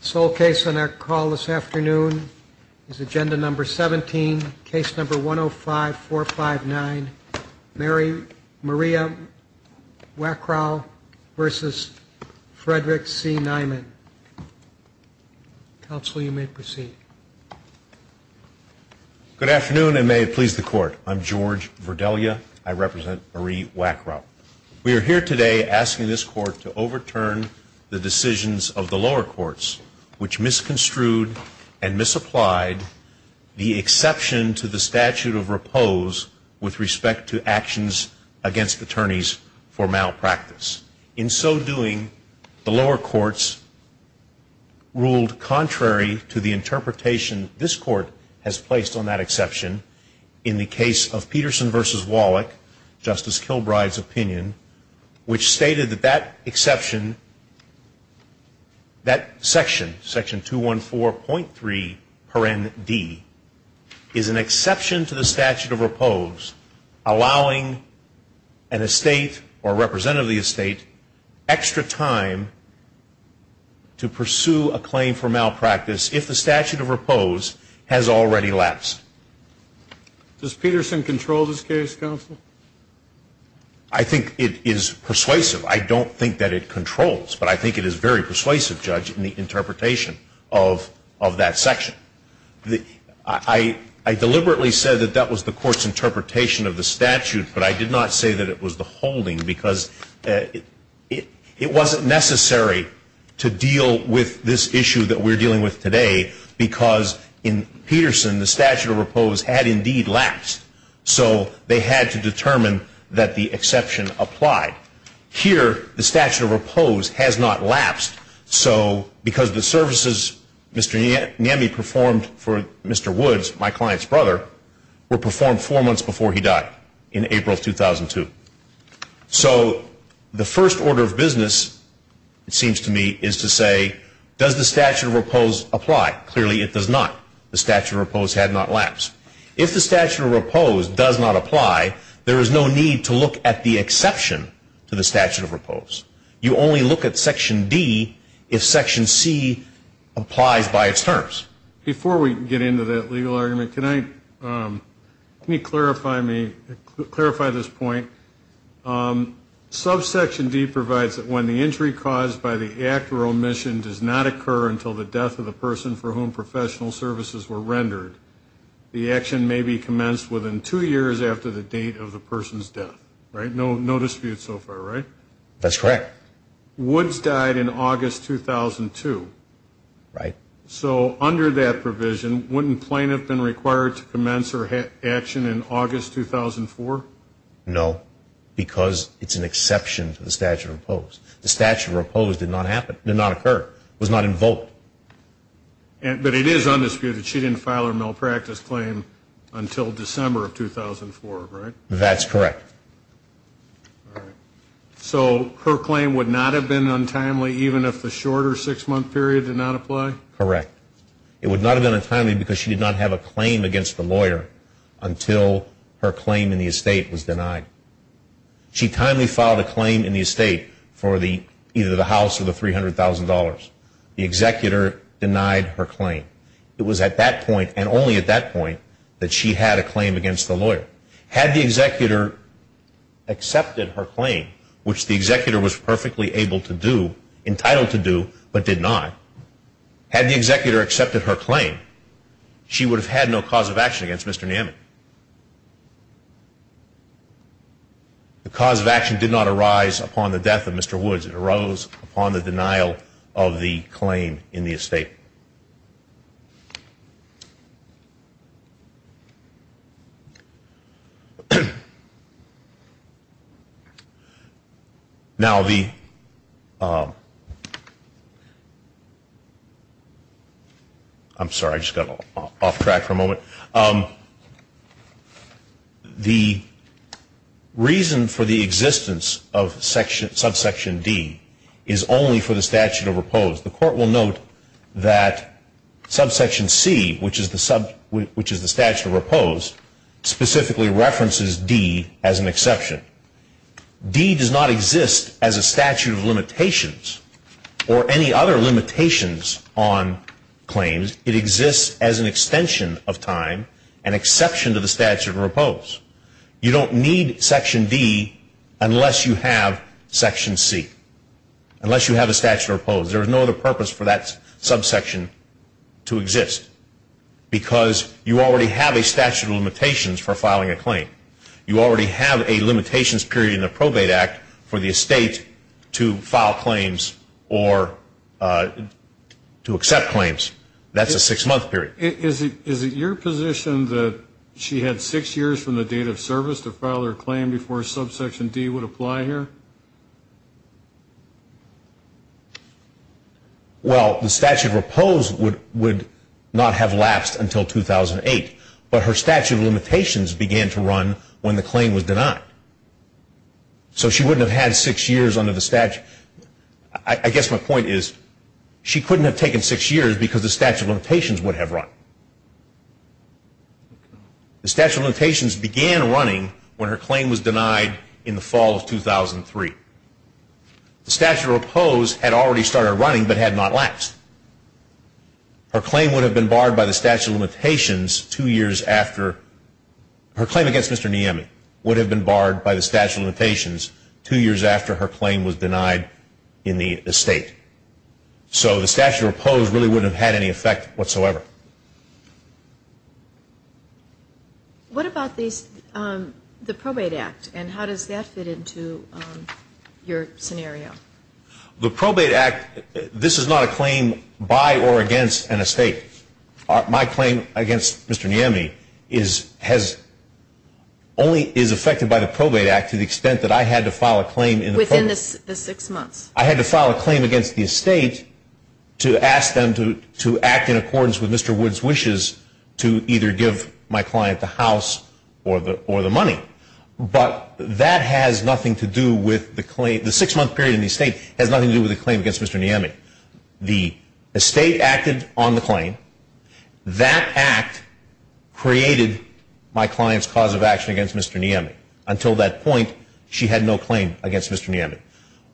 This whole case on our call this afternoon is Agenda No. 17, Case No. 105-459, Maria Wackrow v. Frederick C. Niemi. Counsel, you may proceed. Good afternoon, and may it please the Court. I'm George Verdelia. I represent Marie Wackrow. We are here today asking this Court to overturn the decisions of the lower courts, which misconstrued and misapplied the exception to the statute of repose with respect to actions against attorneys for malpractice. In so doing, the lower courts ruled contrary to the interpretation this Court has placed on that exception in the case of Peterson v. Wallach, Justice Kilbride's opinion, which stated that that exception, that section, Section 214.3, paren D, is an exception to the statute of repose, allowing an estate or representative of the estate extra time to pursue a claim for malpractice if the statute of repose has already lapsed. Does Peterson control this case, Counsel? I think it is persuasive. I don't think that it controls, but I think it is very persuasive, Judge, in the interpretation of that section. I deliberately said that that was the Court's interpretation of the statute, but I did not say that it was the holding, because it wasn't necessary to deal with this issue that we're dealing with today, because in Peterson, the statute of repose had indeed lapsed, so they had to determine that the exception applied. Here, the statute of repose has not lapsed, because the services Mr. Nemi performed for Mr. Woods, my client's brother, were performed four months before he died, in April of 2002. So the first order of business, it seems to me, is to say, does the statute of repose apply? Clearly, it does not. The statute of repose had not lapsed. If the statute of repose does not apply, there is no need to look at the exception to the statute of repose. You only look at Section D if Section C applies by its terms. Before we get into that legal argument, can you clarify this point? Subsection D provides that when the injury caused by the act or omission does not occur until the death of the person for whom professional services were rendered, the action may be commenced within two years after the date of the person's death, right? No dispute so far, right? That's correct. Woods died in August 2002. Right. So under that provision, wouldn't Plain have been required to commence her action in August 2004? No, because it's an exception to the statute of repose. The statute of repose did not occur, was not invoked. But it is undisputed, she didn't file her malpractice claim until December of 2004, right? That's correct. So her claim would not have been untimely even if the shorter six-month period did not apply? Correct. It would not have been untimely because she did not have a claim against the lawyer until her claim in the estate was denied. She timely filed a claim in the estate for either the house or the $300,000. The executor denied her claim. It was at that point and only at that point that she had a claim against the lawyer. Had the executor accepted her claim, which the executor was perfectly able to do, entitled to do, but did not, had the executor accepted her claim, she would have had no cause of action against Mr. Namik. The cause of action did not arise upon the death of Mr. Woods. It arose upon the denial of the claim in the estate. Now the, I'm sorry, I just got off track for a moment. The reason for the existence of subsection D is only for the statute of repose. The court will note that subsection C, which is the statute of repose, specifically references D as an exception. D does not exist as a statute of limitations or any other limitations on claims. It exists as an extension of time, an exception to the statute of repose. You don't need section D unless you have section C, unless you have a statute of repose. There is no other purpose for that subsection to exist because you already have a statute of limitations for filing a claim. You already have a limitations period in the Probate Act for the estate to file claims or to accept claims. That's a six-month period. Is it your position that she had six years from the date of service to file her claim before subsection D would apply here? Well, the statute of repose would not have lapsed until 2008, but her statute of limitations began to run when the claim was denied. So she wouldn't have had six years under the statute. I guess my point is she couldn't have taken six years because the statute of limitations would have run. The statute of limitations began running when her claim was denied in the fall of 2003. The statute of repose had already started running but had not lapsed. Her claim would have been barred by the statute of limitations two years after her claim against Mr. Niemey would have been barred by the statute of limitations two years after her claim was denied in the estate. So the statute of repose really wouldn't have had any effect whatsoever. What about the Probate Act and how does that fit into your scenario? The Probate Act, this is not a claim by or against an estate. My claim against Mr. Niemey only is affected by the Probate Act to the extent that I had to file a claim. Within the six months. I had to file a claim against the estate to ask them to act in accordance with Mr. Wood's wishes to either give my client the house or the money. But that has nothing to do with the claim. The six-month period in the estate has nothing to do with the claim against Mr. Niemey. The estate acted on the claim. That act created my client's cause of action against Mr. Niemey. Until that point, she had no claim against Mr. Niemey.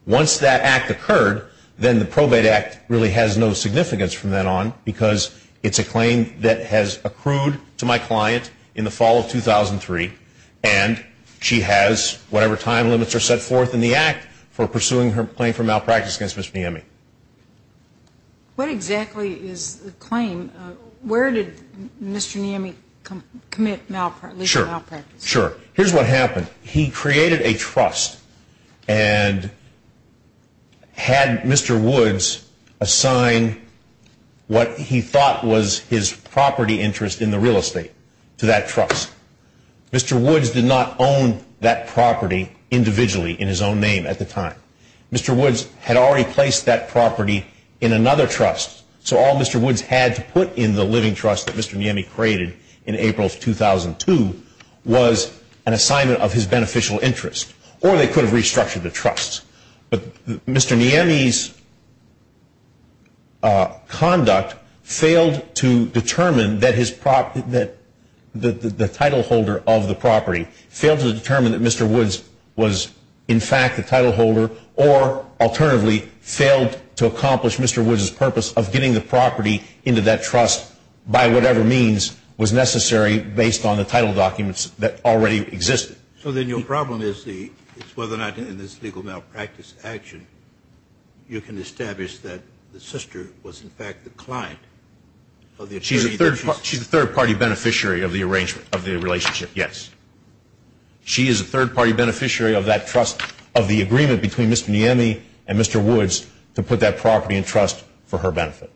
Once that act occurred, then the Probate Act really has no significance from then on because it's a claim that has been accrued to my client in the fall of 2003. And she has whatever time limits are set forth in the act for pursuing her claim for malpractice against Mr. Niemey. What exactly is the claim? Where did Mr. Niemey commit malpractice? Sure. Here's what happened. He created a trust and had Mr. Wood's property interest in the real estate to that trust. Mr. Wood's did not own that property individually in his own name at the time. Mr. Wood's had already placed that property in another trust, so all Mr. Wood's had to put in the living trust that Mr. Niemey created in April of 2002 was an assignment of his beneficial interest. Or they could have restructured the trust. But Mr. Niemey's conduct failed to determine that the title holder of the property, failed to determine that Mr. Wood's was, in fact, the title holder, or alternatively, failed to accomplish Mr. Wood's purpose of getting the property into that trust by whatever means was necessary based on the title documents that already existed. So then your problem is whether or not in this legal malpractice action you can establish that the sister was, in fact, the client of the attorney that she's- She's a third-party beneficiary of the arrangement, of the relationship, yes. She is a third-party beneficiary of that trust, of the agreement between Mr. Niemey and Mr. Wood's to put that property in trust for her benefit.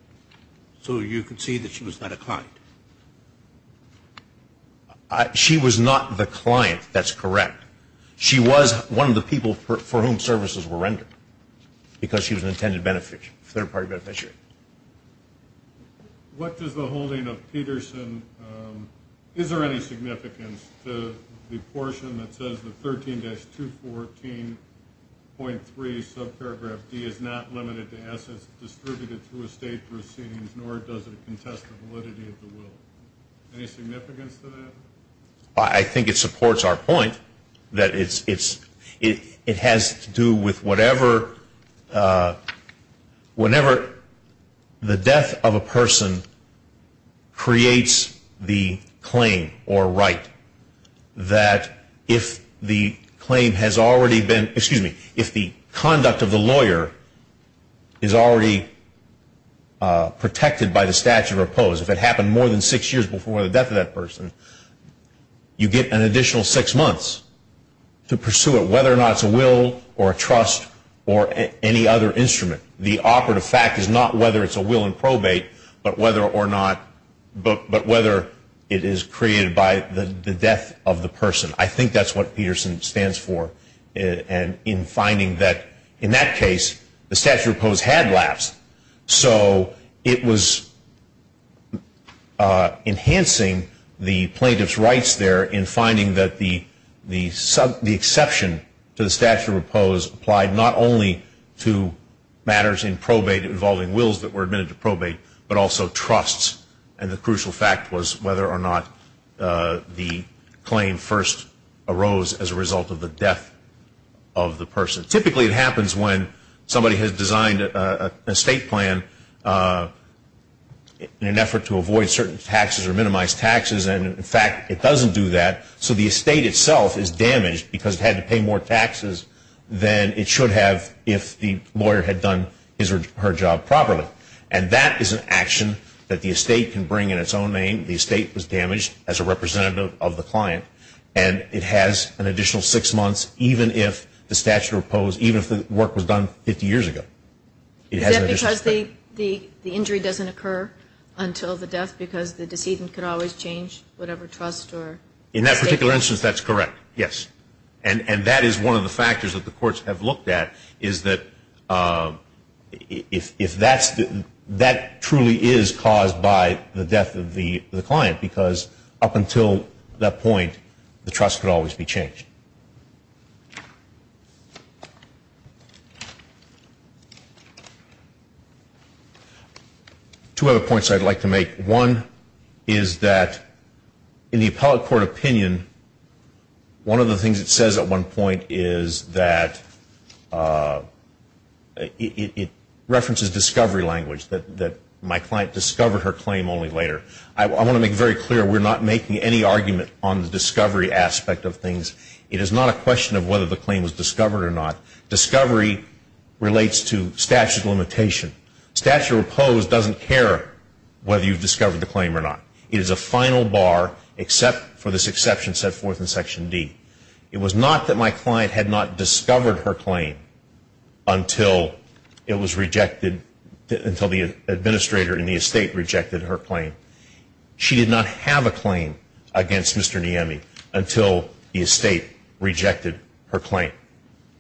So you concede that she was not a client? She was not the client. That's correct. She was one of the people for whom services were rendered because she was an intended third-party beneficiary. What does the holding of Peterson- Is there any significance to the portion that says that 13-214.3 subparagraph D is not limited to assets distributed through estate proceedings, nor does it contest the validity of the will? Any significance to that? I think it supports our point that it has to do with whatever- whenever the death of a person creates the claim or right that if the claim has already been- protected by the statute of oppose, if it happened more than six years before the death of that person, you get an additional six months to pursue it, whether or not it's a will or a trust or any other instrument. The operative fact is not whether it's a will in probate, but whether or not- but whether it is created by the death of the person. I think that's what Peterson stands for in finding that, in that case, the statute of oppose had lapsed. So it was enhancing the plaintiff's rights there in finding that the exception to the statute of oppose applied not only to matters in probate involving wills that were admitted to probate, but also trusts. And the crucial fact was whether or not the claim first arose as a result of the death of the person. Typically, it happens when somebody has designed an estate plan in an effort to avoid certain taxes or minimize taxes. And, in fact, it doesn't do that. So the estate itself is damaged because it had to pay more taxes than it should have if the lawyer had done her job properly. And that is an action that the estate can bring in its own name. The estate was damaged as a representative of the client. And it has an additional six months, even if the statute of oppose, even if the work was done 50 years ago. Is that because the injury doesn't occur until the death because the decedent could always change whatever trust or- In that particular instance, that's correct, yes. And that is one of the factors that the courts have looked at is that if that's the- that truly is caused by the death of the client because up until that point, the trust could always be changed. Two other points I'd like to make. One is that in the appellate court opinion, one of the things it says at one point is that it references discovery language, that my client discovered her claim only later. I want to make very clear we're not making any argument on the discovery aspect of things. It is not a question of whether the claim was discovered or not. Discovery relates to statute of limitation. Statute of oppose doesn't care whether you've discovered the claim or not. It is a final bar except for this exception set forth in Section D. It was not that my client had not discovered her claim until it was rejected- until the administrator in the estate rejected her claim. She did not have a claim against Mr. Nieme until the estate rejected her claim.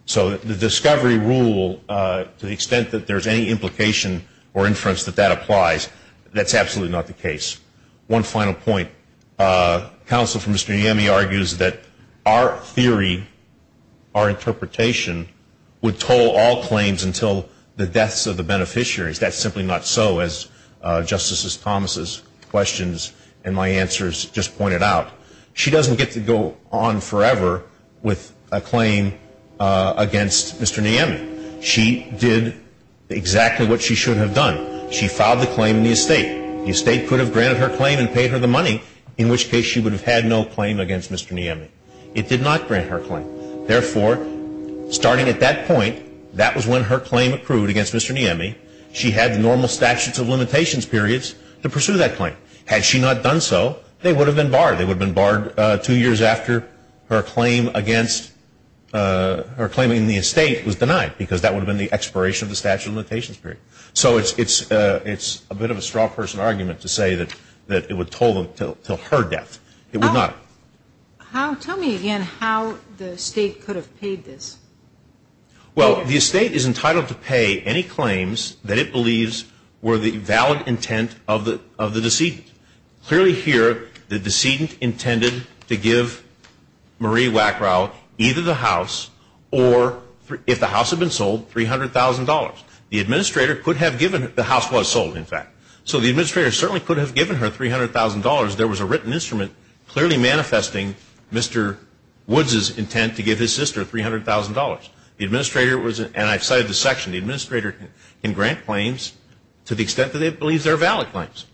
So the discovery rule, to the extent that there's any implication or inference that that applies, that's absolutely not the case. One final point. Counsel for Mr. Nieme argues that our theory, our interpretation, would toll all claims until the deaths of the beneficiaries. That's simply not so, as Justices Thomas' questions and my answers just pointed out. She doesn't get to go on forever with a claim against Mr. Nieme. She did exactly what she should have done. She filed the claim in the estate. The estate could have granted her claim and paid her the money, in which case she would have had no claim against Mr. Nieme. It did not grant her claim. Therefore, starting at that point, that was when her claim accrued against Mr. Nieme. She had normal statutes of limitations periods to pursue that claim. Had she not done so, they would have been barred. They would have been barred two years after her claim against her claim in the estate was denied, because that would have been the expiration of the statute of limitations period. So it's a bit of a straw person argument to say that it would toll them until her death. It would not. Tell me again how the estate could have paid this. Well, the estate is entitled to pay any claims that it believes were the valid intent of the decedent. Clearly here, the decedent intended to give Marie Wackrow either the house or, if the house had been sold, $300,000. The administrator could have given her the house was sold, in fact. So the administrator certainly could have given her $300,000. There was a written instrument clearly manifesting Mr. Woods' intent to give his sister $300,000. The administrator was, and I've cited this section, the administrator can grant claims to the extent that it believes they're valid claims.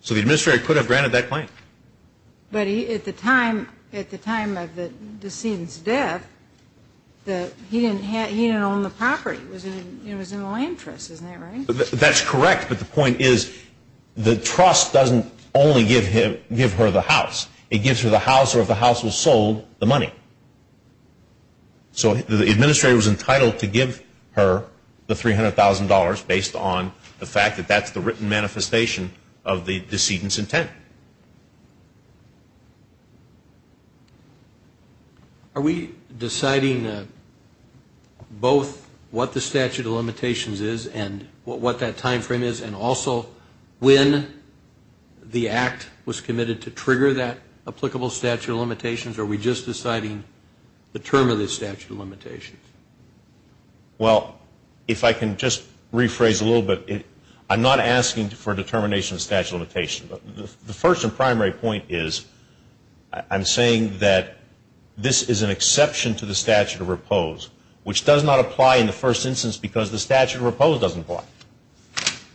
So the administrator could have granted that claim. But at the time of the decedent's death, he didn't own the property. It was in the land trust. Isn't that right? That's correct, but the point is the trust doesn't only give her the house. It gives her the house or, if the house was sold, the money. So the administrator was entitled to give her the $300,000 based on the fact that that's the written manifestation of the decedent's intent. Are we deciding both what the statute of limitations is and what that time frame is and also when the act was committed to trigger that applicable statute of limitations, or are we just deciding the term of the statute of limitations? Well, if I can just rephrase a little bit, I'm not asking for a determination of statute of limitations. The first and primary point is I'm saying that this is an exception to the statute of repose, which does not apply in the first instance because the statute of repose doesn't apply.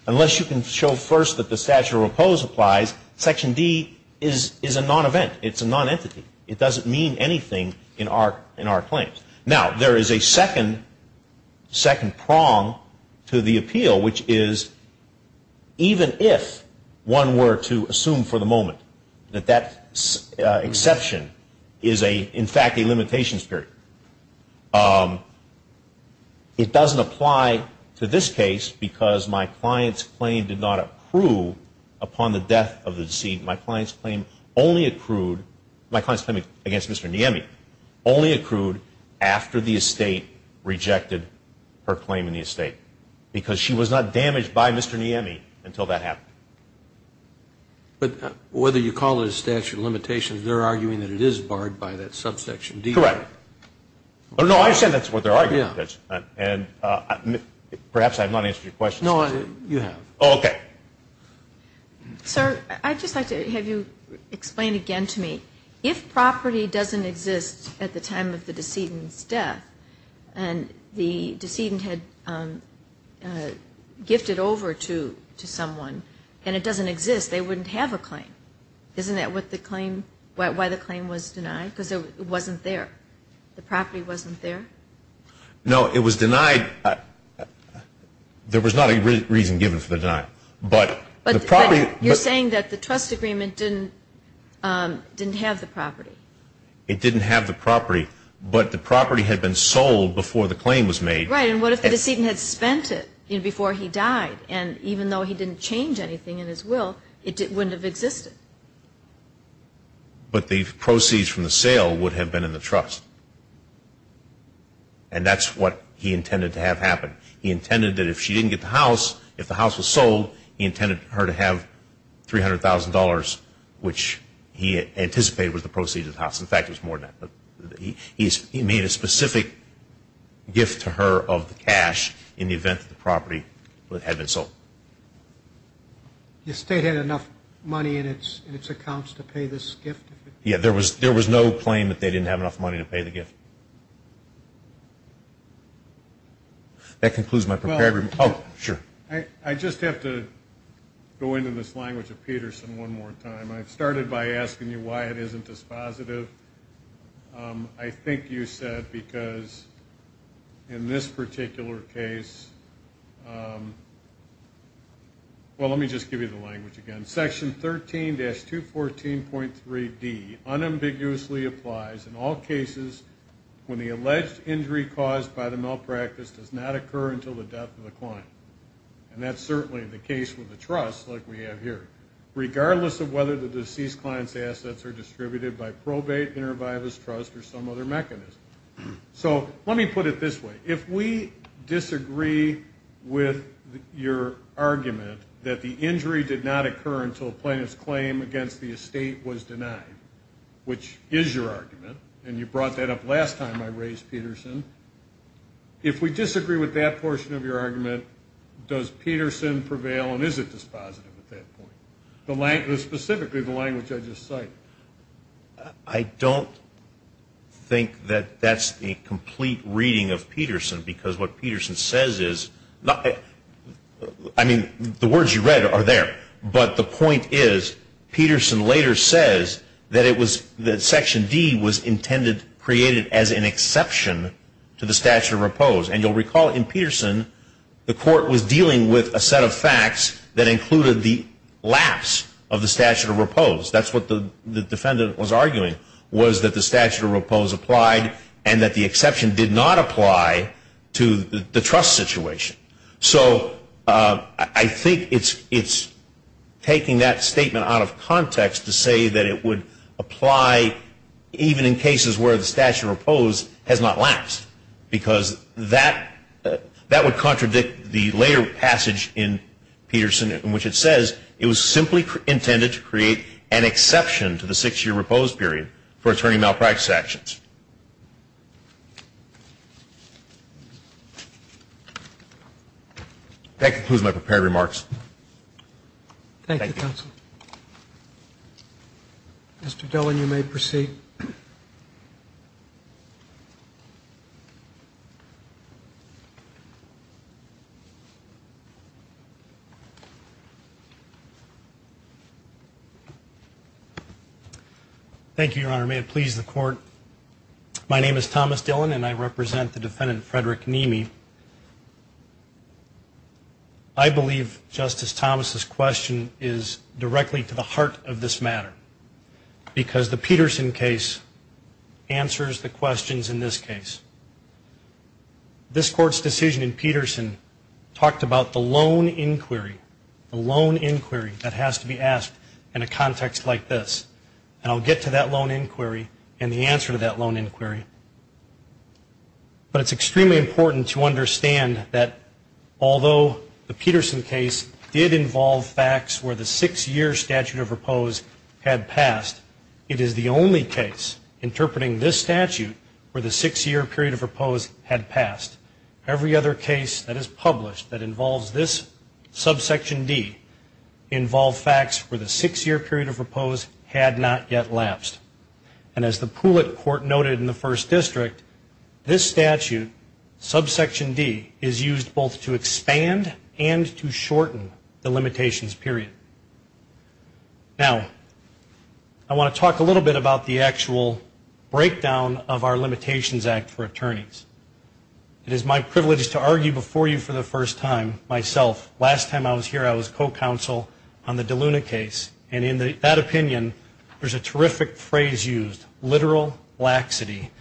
Unless you can show first that the statute of repose applies, Section D is a non-event. It's a non-entity. It doesn't mean anything in our claims. Now, there is a second prong to the appeal, which is even if one were to assume for the moment that that exception is, in fact, a limitations period, it doesn't apply to this case because my client's claim did not accrue upon the death of the deceased. My client's claim only accrued, my client's claim against Mr. Nieme only accrued after the estate rejected her claim in the estate because she was not damaged by Mr. Nieme until that happened. But whether you call it a statute of limitations, they're arguing that it is barred by that subsection D. Correct. No, I said that's what their argument is, and perhaps I have not answered your question. No, you have. Okay. Sir, I'd just like to have you explain again to me, if property doesn't exist at the time of the decedent's death and the decedent had gifted over to someone and it doesn't exist, they wouldn't have a claim. Isn't that what the claim, why the claim was denied? Because it wasn't there. The property wasn't there. No, it was denied. There was not a reason given for the denial. But the property. You're saying that the trust agreement didn't have the property. It didn't have the property, but the property had been sold before the claim was made. Right, and what if the decedent had spent it before he died, and even though he didn't change anything in his will, it wouldn't have existed. But the proceeds from the sale would have been in the trust, and that's what he intended to have happen. He intended that if she didn't get the house, if the house was sold, he intended her to have $300,000, which he anticipated was the proceeds of the house. In fact, it was more than that. He made a specific gift to her of the cash in the event that the property had been sold. The estate had enough money in its accounts to pay this gift? Yeah, there was no claim that they didn't have enough money to pay the gift. That concludes my prepared remarks. Oh, sure. I just have to go into this language of Peterson one more time. I started by asking you why it isn't dispositive. I think you said because in this particular case, well, let me just give you the language again. Section 13-214.3D unambiguously applies in all cases when the alleged injury caused by the malpractice does not occur until the death of the client, and that's certainly the case with the trust like we have here. Regardless of whether the deceased client's assets are distributed by probate, intervivus, trust, or some other mechanism. So let me put it this way. If we disagree with your argument that the injury did not occur until a plaintiff's claim against the estate was denied, which is your argument, and you brought that up last time I raised Peterson, if we disagree with that portion of your argument, does Peterson prevail and is it dispositive at that point? Specifically the language I just cited. I don't think that that's a complete reading of Peterson because what Peterson says is, I mean, the words you read are there, but the point is Peterson later says that Section D was intended, created as an exception to the statute of repose. And you'll recall in Peterson the court was dealing with a set of facts that included the lapse of the statute of repose. That's what the defendant was arguing was that the statute of repose applied and that the exception did not apply to the trust situation. So I think it's taking that statement out of context to say that it would apply even in cases where the statute of repose has not lapsed because that would contradict the later passage in Peterson in which it says it was simply intended to create an exception to the six-year repose period for attorney malpractice actions. That concludes my prepared remarks. Thank you, counsel. Mr. Dillon, you may proceed. Thank you, Your Honor. May it please the court. My name is Thomas Dillon and I represent the defendant, Frederick Nemi. I believe Justice Thomas' question is directly to the heart of this matter because the Peterson case answers the questions in this case. This Court's decision in Peterson talked about the lone inquiry, the lone inquiry that has to be asked in a context like this. And I'll get to that lone inquiry and the answer to that lone inquiry. But it's extremely important to understand that although the Peterson case did involve facts where the six-year statute of repose had passed, it is the only case interpreting this statute where the six-year period of repose had passed. Every other case that is published that involves this Subsection D involve facts where the six-year period of repose had not yet lapsed. And as the Poulet Court noted in the First District, this statute, Subsection D, is used both to expand and to shorten the limitations period. Now, I want to talk a little bit about the actual breakdown of our Limitations Act for attorneys. It is my privilege to argue before you for the first time myself. Last time I was here, I was co-counsel on the DeLuna case. And in that opinion, there's a terrific phrase used, literal laxity.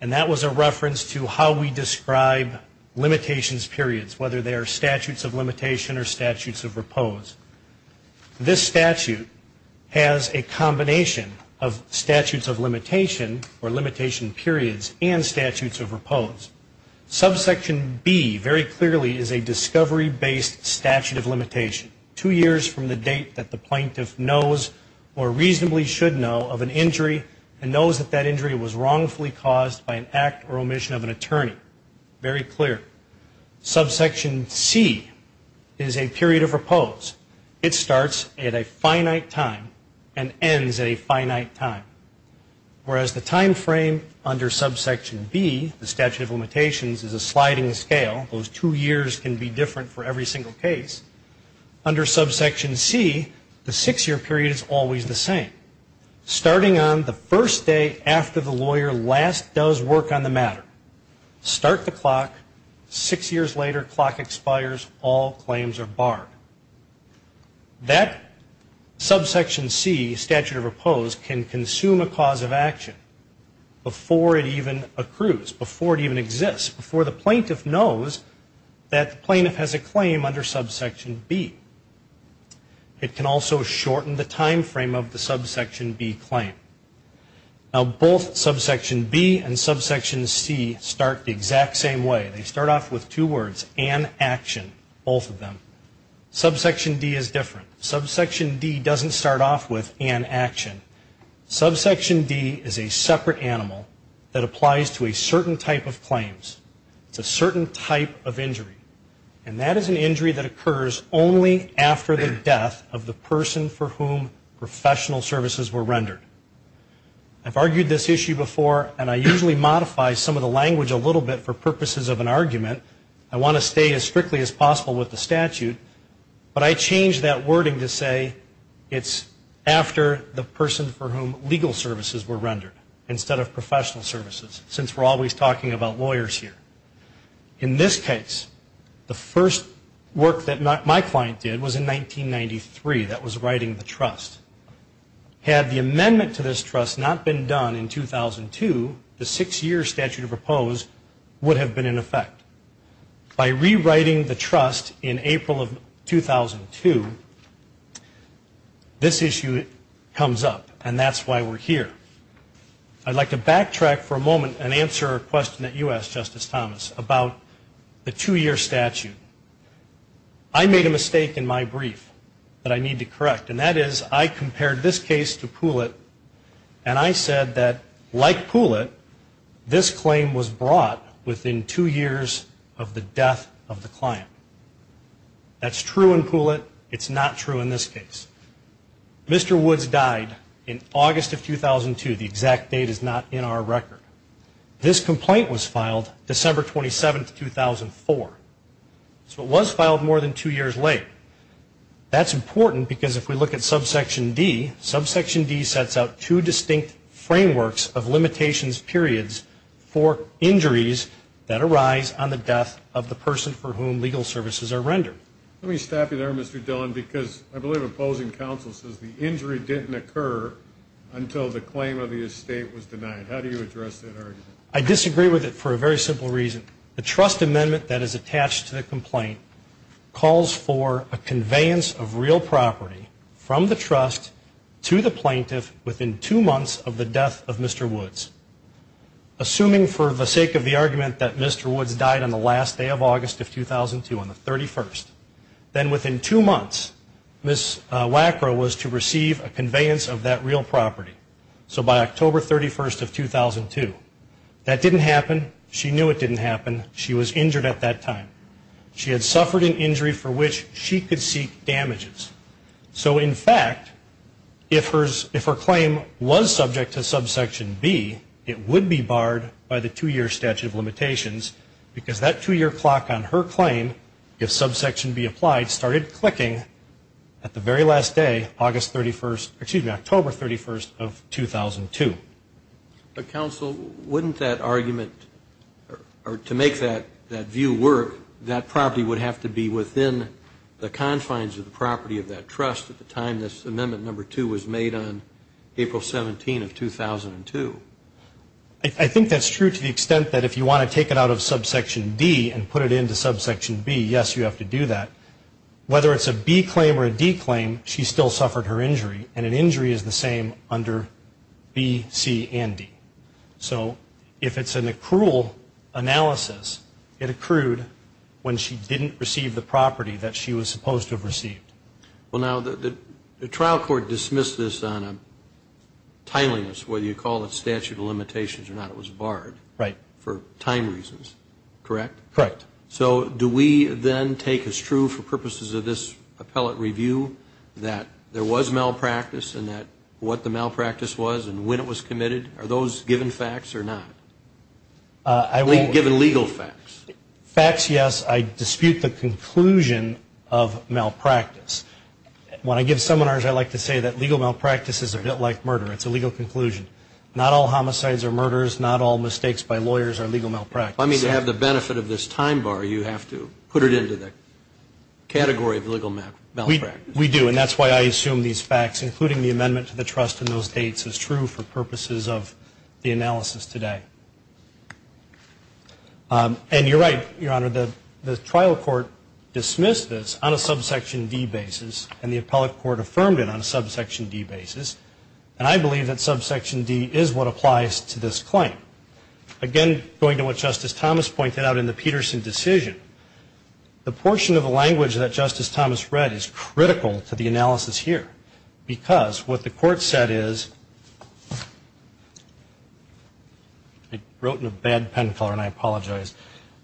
And that was a reference to how we describe limitations periods, whether they are statutes of limitation or statutes of repose. This statute has a combination of statutes of limitation or limitation periods and statutes of repose. Subsection B very clearly is a discovery-based statute of limitation, two years from the date that the plaintiff knows or reasonably should know of an injury and knows that that injury was wrongfully caused by an act or omission of an attorney. Very clear. Subsection C is a period of repose. It starts at a finite time and ends at a finite time. Whereas the time frame under Subsection B, the statute of limitations, is a sliding scale. Those two years can be different for every single case. Under Subsection C, the six-year period is always the same, starting on the first day after the lawyer last does work on the matter. Start the clock, six years later, clock expires, all claims are barred. That Subsection C, statute of repose, can consume a cause of action before it even accrues, before it even exists, before the plaintiff knows that the plaintiff has a claim under Subsection B. It can also shorten the time frame of the Subsection B claim. Now, both Subsection B and Subsection C start the exact same way. They start off with two words, an action, both of them. Subsection D is different. Subsection D doesn't start off with an action. Subsection D is a separate animal that applies to a certain type of claims. It's a certain type of injury, and that is an injury that occurs only after the death of the person for whom professional services were rendered. I've argued this issue before, and I usually modify some of the language a little bit for purposes of an argument. I want to stay as strictly as possible with the statute, but I changed that wording to say it's after the person for whom legal services were rendered, instead of professional services, since we're always talking about lawyers here. In this case, the first work that my client did was in 1993. That was writing the trust. Had the amendment to this trust not been done in 2002, the six-year statute of oppose would have been in effect. By rewriting the trust in April of 2002, this issue comes up, and that's why we're here. I'd like to backtrack for a moment and answer a question that you asked, Justice Thomas, about the two-year statute. I made a mistake in my brief that I need to correct, and that is I compared this case to Poulet, and I said that, like Poulet, this claim was brought within two years of the death of the client. That's true in Poulet. It's not true in this case. Mr. Woods died in August of 2002. The exact date is not in our record. This complaint was filed December 27, 2004. So it was filed more than two years late. That's important because if we look at subsection D, subsection D sets out two distinct frameworks of limitations periods for injuries that arise on the death of the person for whom legal services are rendered. Let me stop you there, Mr. Dillon, because I believe opposing counsel says the injury didn't occur until the claim of the estate was denied. How do you address that argument? I disagree with it for a very simple reason. The trust amendment that is attached to the complaint calls for a conveyance of real property from the trust to the plaintiff within two months of the death of Mr. Woods. Assuming for the sake of the argument that Mr. Woods died on the last day of August of 2002, on the 31st, then within two months, Ms. Wackrow was to receive a conveyance of that real property. So by October 31st of 2002. That didn't happen. She knew it didn't happen. She was injured at that time. She had suffered an injury for which she could seek damages. So, in fact, if her claim was subject to subsection B, it would be barred by the two-year statute of limitations because that two-year clock on her claim, if subsection B applied, started clicking at the very last day, October 31st of 2002. But, counsel, wouldn't that argument, or to make that view work, that that property would have to be within the confines of the property of that trust at the time this amendment number two was made on April 17th of 2002? I think that's true to the extent that if you want to take it out of subsection D and put it into subsection B, yes, you have to do that. Whether it's a B claim or a D claim, she still suffered her injury, and an injury is the same under B, C, and D. So if it's an accrual analysis, it accrued when she didn't receive the property that she was supposed to have received. Well, now, the trial court dismissed this on a timeliness, whether you call it statute of limitations or not. It was barred for time reasons, correct? Correct. So do we then take as true for purposes of this appellate review that there was malpractice and that what the malpractice was and when it was committed? Are those given facts or not? Given legal facts. Facts, yes. I dispute the conclusion of malpractice. When I give seminars, I like to say that legal malpractice is a bit like murder. It's a legal conclusion. Not all homicides are murders. Not all mistakes by lawyers are legal malpractice. I mean, to have the benefit of this time bar, you have to put it into the category of legal malpractice. We do, and that's why I assume these facts, including the amendment to the trust in those dates, is true for purposes of the analysis today. And you're right, Your Honor, the trial court dismissed this on a subsection D basis, and the appellate court affirmed it on a subsection D basis, and I believe that subsection D is what applies to this claim. Again, going to what Justice Thomas pointed out in the Peterson decision, the portion of the language that Justice Thomas read is critical to the analysis here, because what the court said is, I wrote in a bad pen color and I apologize,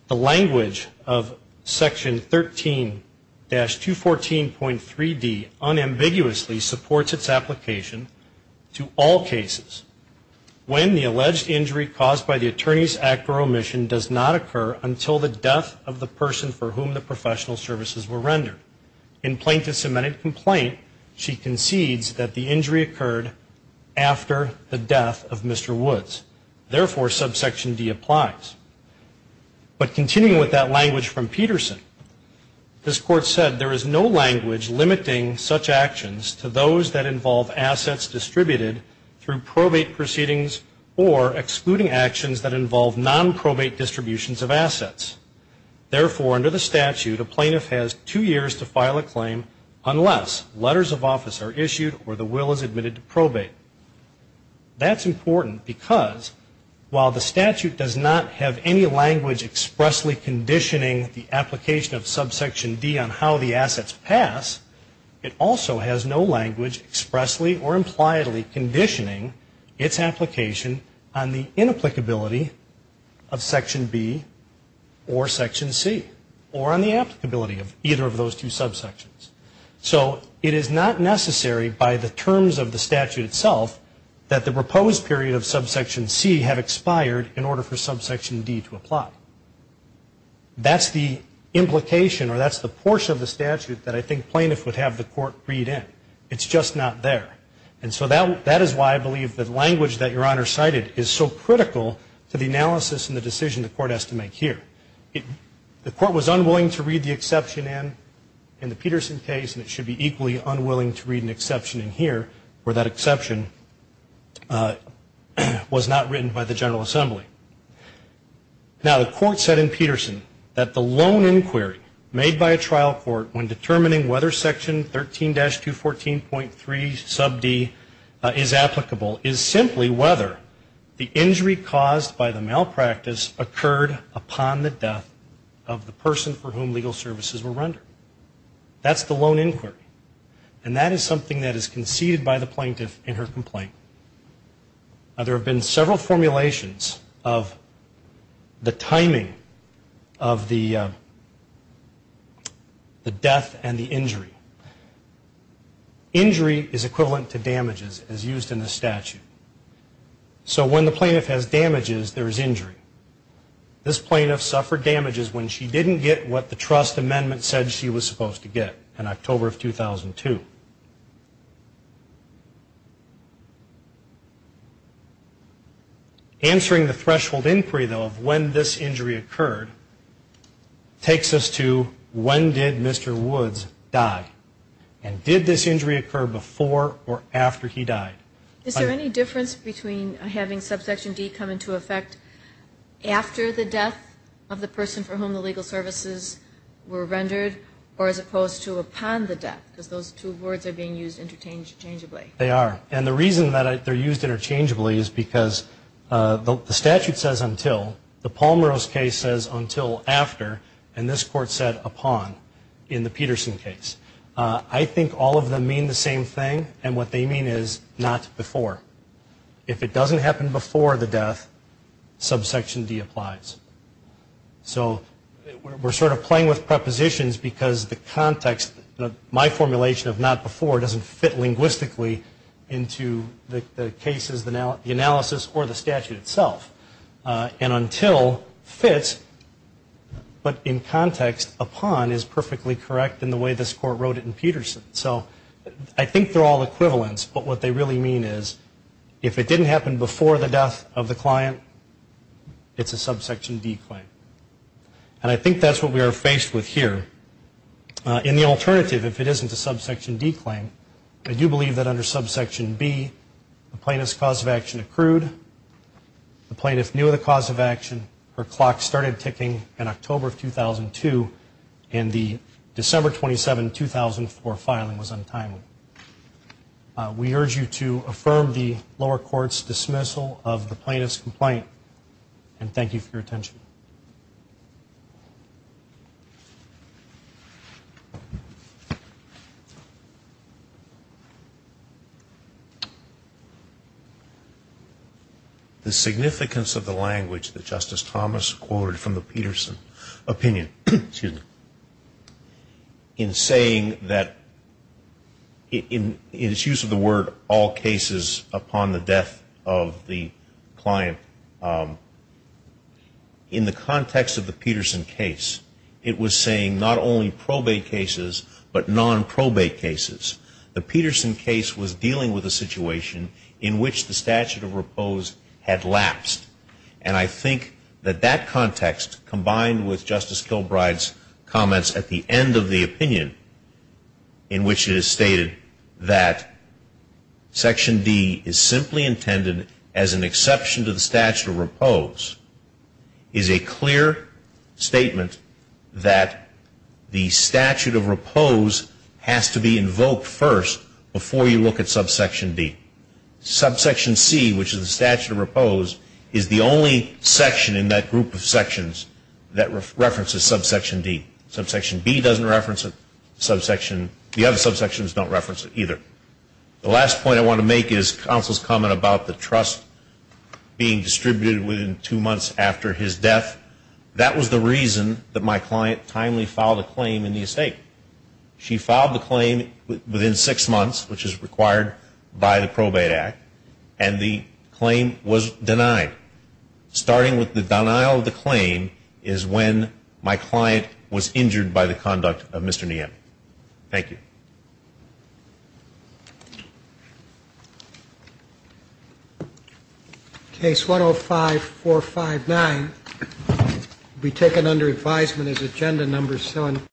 the language of section 13-214.3D unambiguously supports its application to all cases. When the alleged injury caused by the attorney's act or omission does not occur until the death of the person for whom the professional services were rendered. In plaintiff's amended complaint, she concedes that the injury occurred after the death of Mr. Woods. Therefore, subsection D applies. But continuing with that language from Peterson, this court said, there is no language limiting such actions to those that involve assets distributed through probate proceedings or excluding actions that involve non-probate distributions of assets. Therefore, under the statute, a plaintiff has two years to file a claim unless letters of office are issued or the will is admitted to probate. That's important because while the statute does not have any language expressly conditioning the application of the assets passed, it also has no language expressly or impliedly conditioning its application on the inapplicability of section B or section C or on the applicability of either of those two subsections. So it is not necessary by the terms of the statute itself that the proposed period of subsection C have expired in order for subsection D to apply. That's the implication or that's the portion of the statute that I think plaintiffs would have the court read in. It's just not there. And so that is why I believe that language that Your Honor cited is so critical to the analysis and the decision the court has to make here. The court was unwilling to read the exception in the Peterson case, and it should be equally unwilling to read an exception in here where that exception was not written by the General Assembly. Now the court said in Peterson that the lone inquiry made by a trial court when determining whether section 13-214.3 sub D is applicable is simply whether the injury caused by the malpractice occurred upon the death of the person for whom legal services were rendered. That's the lone inquiry. And that is something that is conceded by the plaintiff in her complaint. Now there have been several formulations of the timing of the death and the injury. Injury is equivalent to damages as used in the statute. So when the plaintiff has damages, there is injury. This plaintiff suffered damages when she didn't get what the trust amendment said she was supposed to get in October of 2002. Answering the threshold inquiry, though, of when this injury occurred takes us to when did Mr. Woods die? And did this injury occur before or after he died? Is there any difference between having subsection D come into effect after the death of the person for whom the legal services were rendered or as opposed to upon the death? Because those two words are being used interchangeably. They are. And the reason that they're used interchangeably is because the statute says until. The Palmeros case says until after. And this court said upon in the Peterson case. I think all of them mean the same thing, and what they mean is not before. If it doesn't happen before the death, subsection D applies. So we're sort of playing with prepositions because the context, my formulation of not before, doesn't fit linguistically into the cases, the analysis, or the statute itself. And until fits, but in context, upon is perfectly correct in the way this court wrote it in Peterson. So I think they're all equivalents, but what they really mean is if it didn't happen before the death of the client, it's a subsection D claim. And I think that's what we are faced with here. In the alternative, if it isn't a subsection D claim, I do believe that under subsection B the plaintiff's cause of action accrued. The plaintiff knew the cause of action. Her clock started ticking in October of 2002, and the December 27, 2004 filing was untimely. We urge you to affirm the lower court's dismissal of the plaintiff's complaint, and thank you for your attention. The significance of the language that Justice Thomas quoted from the Peterson opinion, in saying that, in its use of the word all cases upon the death of the client, in the context of the Peterson case, it was saying not only probate cases, but non-probate cases. The Peterson case was dealing with a situation in which the statute of repose had lapsed. And I think that that context, combined with Justice Kilbride's comments at the end of the opinion, in which it is stated that section D is simply intended as an exception to the statute of repose, is a clear statement that the statute of repose has to be invoked first before you look at subsection D. Subsection C, which is the statute of repose, is the only section in that group of sections that references subsection D. Subsection B doesn't reference it. The other subsections don't reference it either. The last point I want to make is counsel's comment about the trust being distributed within two months after his death. That was the reason that my client timely filed a claim in the estate. She filed the claim within six months, which is required by the Probate Act, and the claim was denied. Starting with the denial of the claim is when my client was injured by the conduct of Mr. Niemeyer. Thank you. Case 105-459 will be taken under advisement as agenda number 7.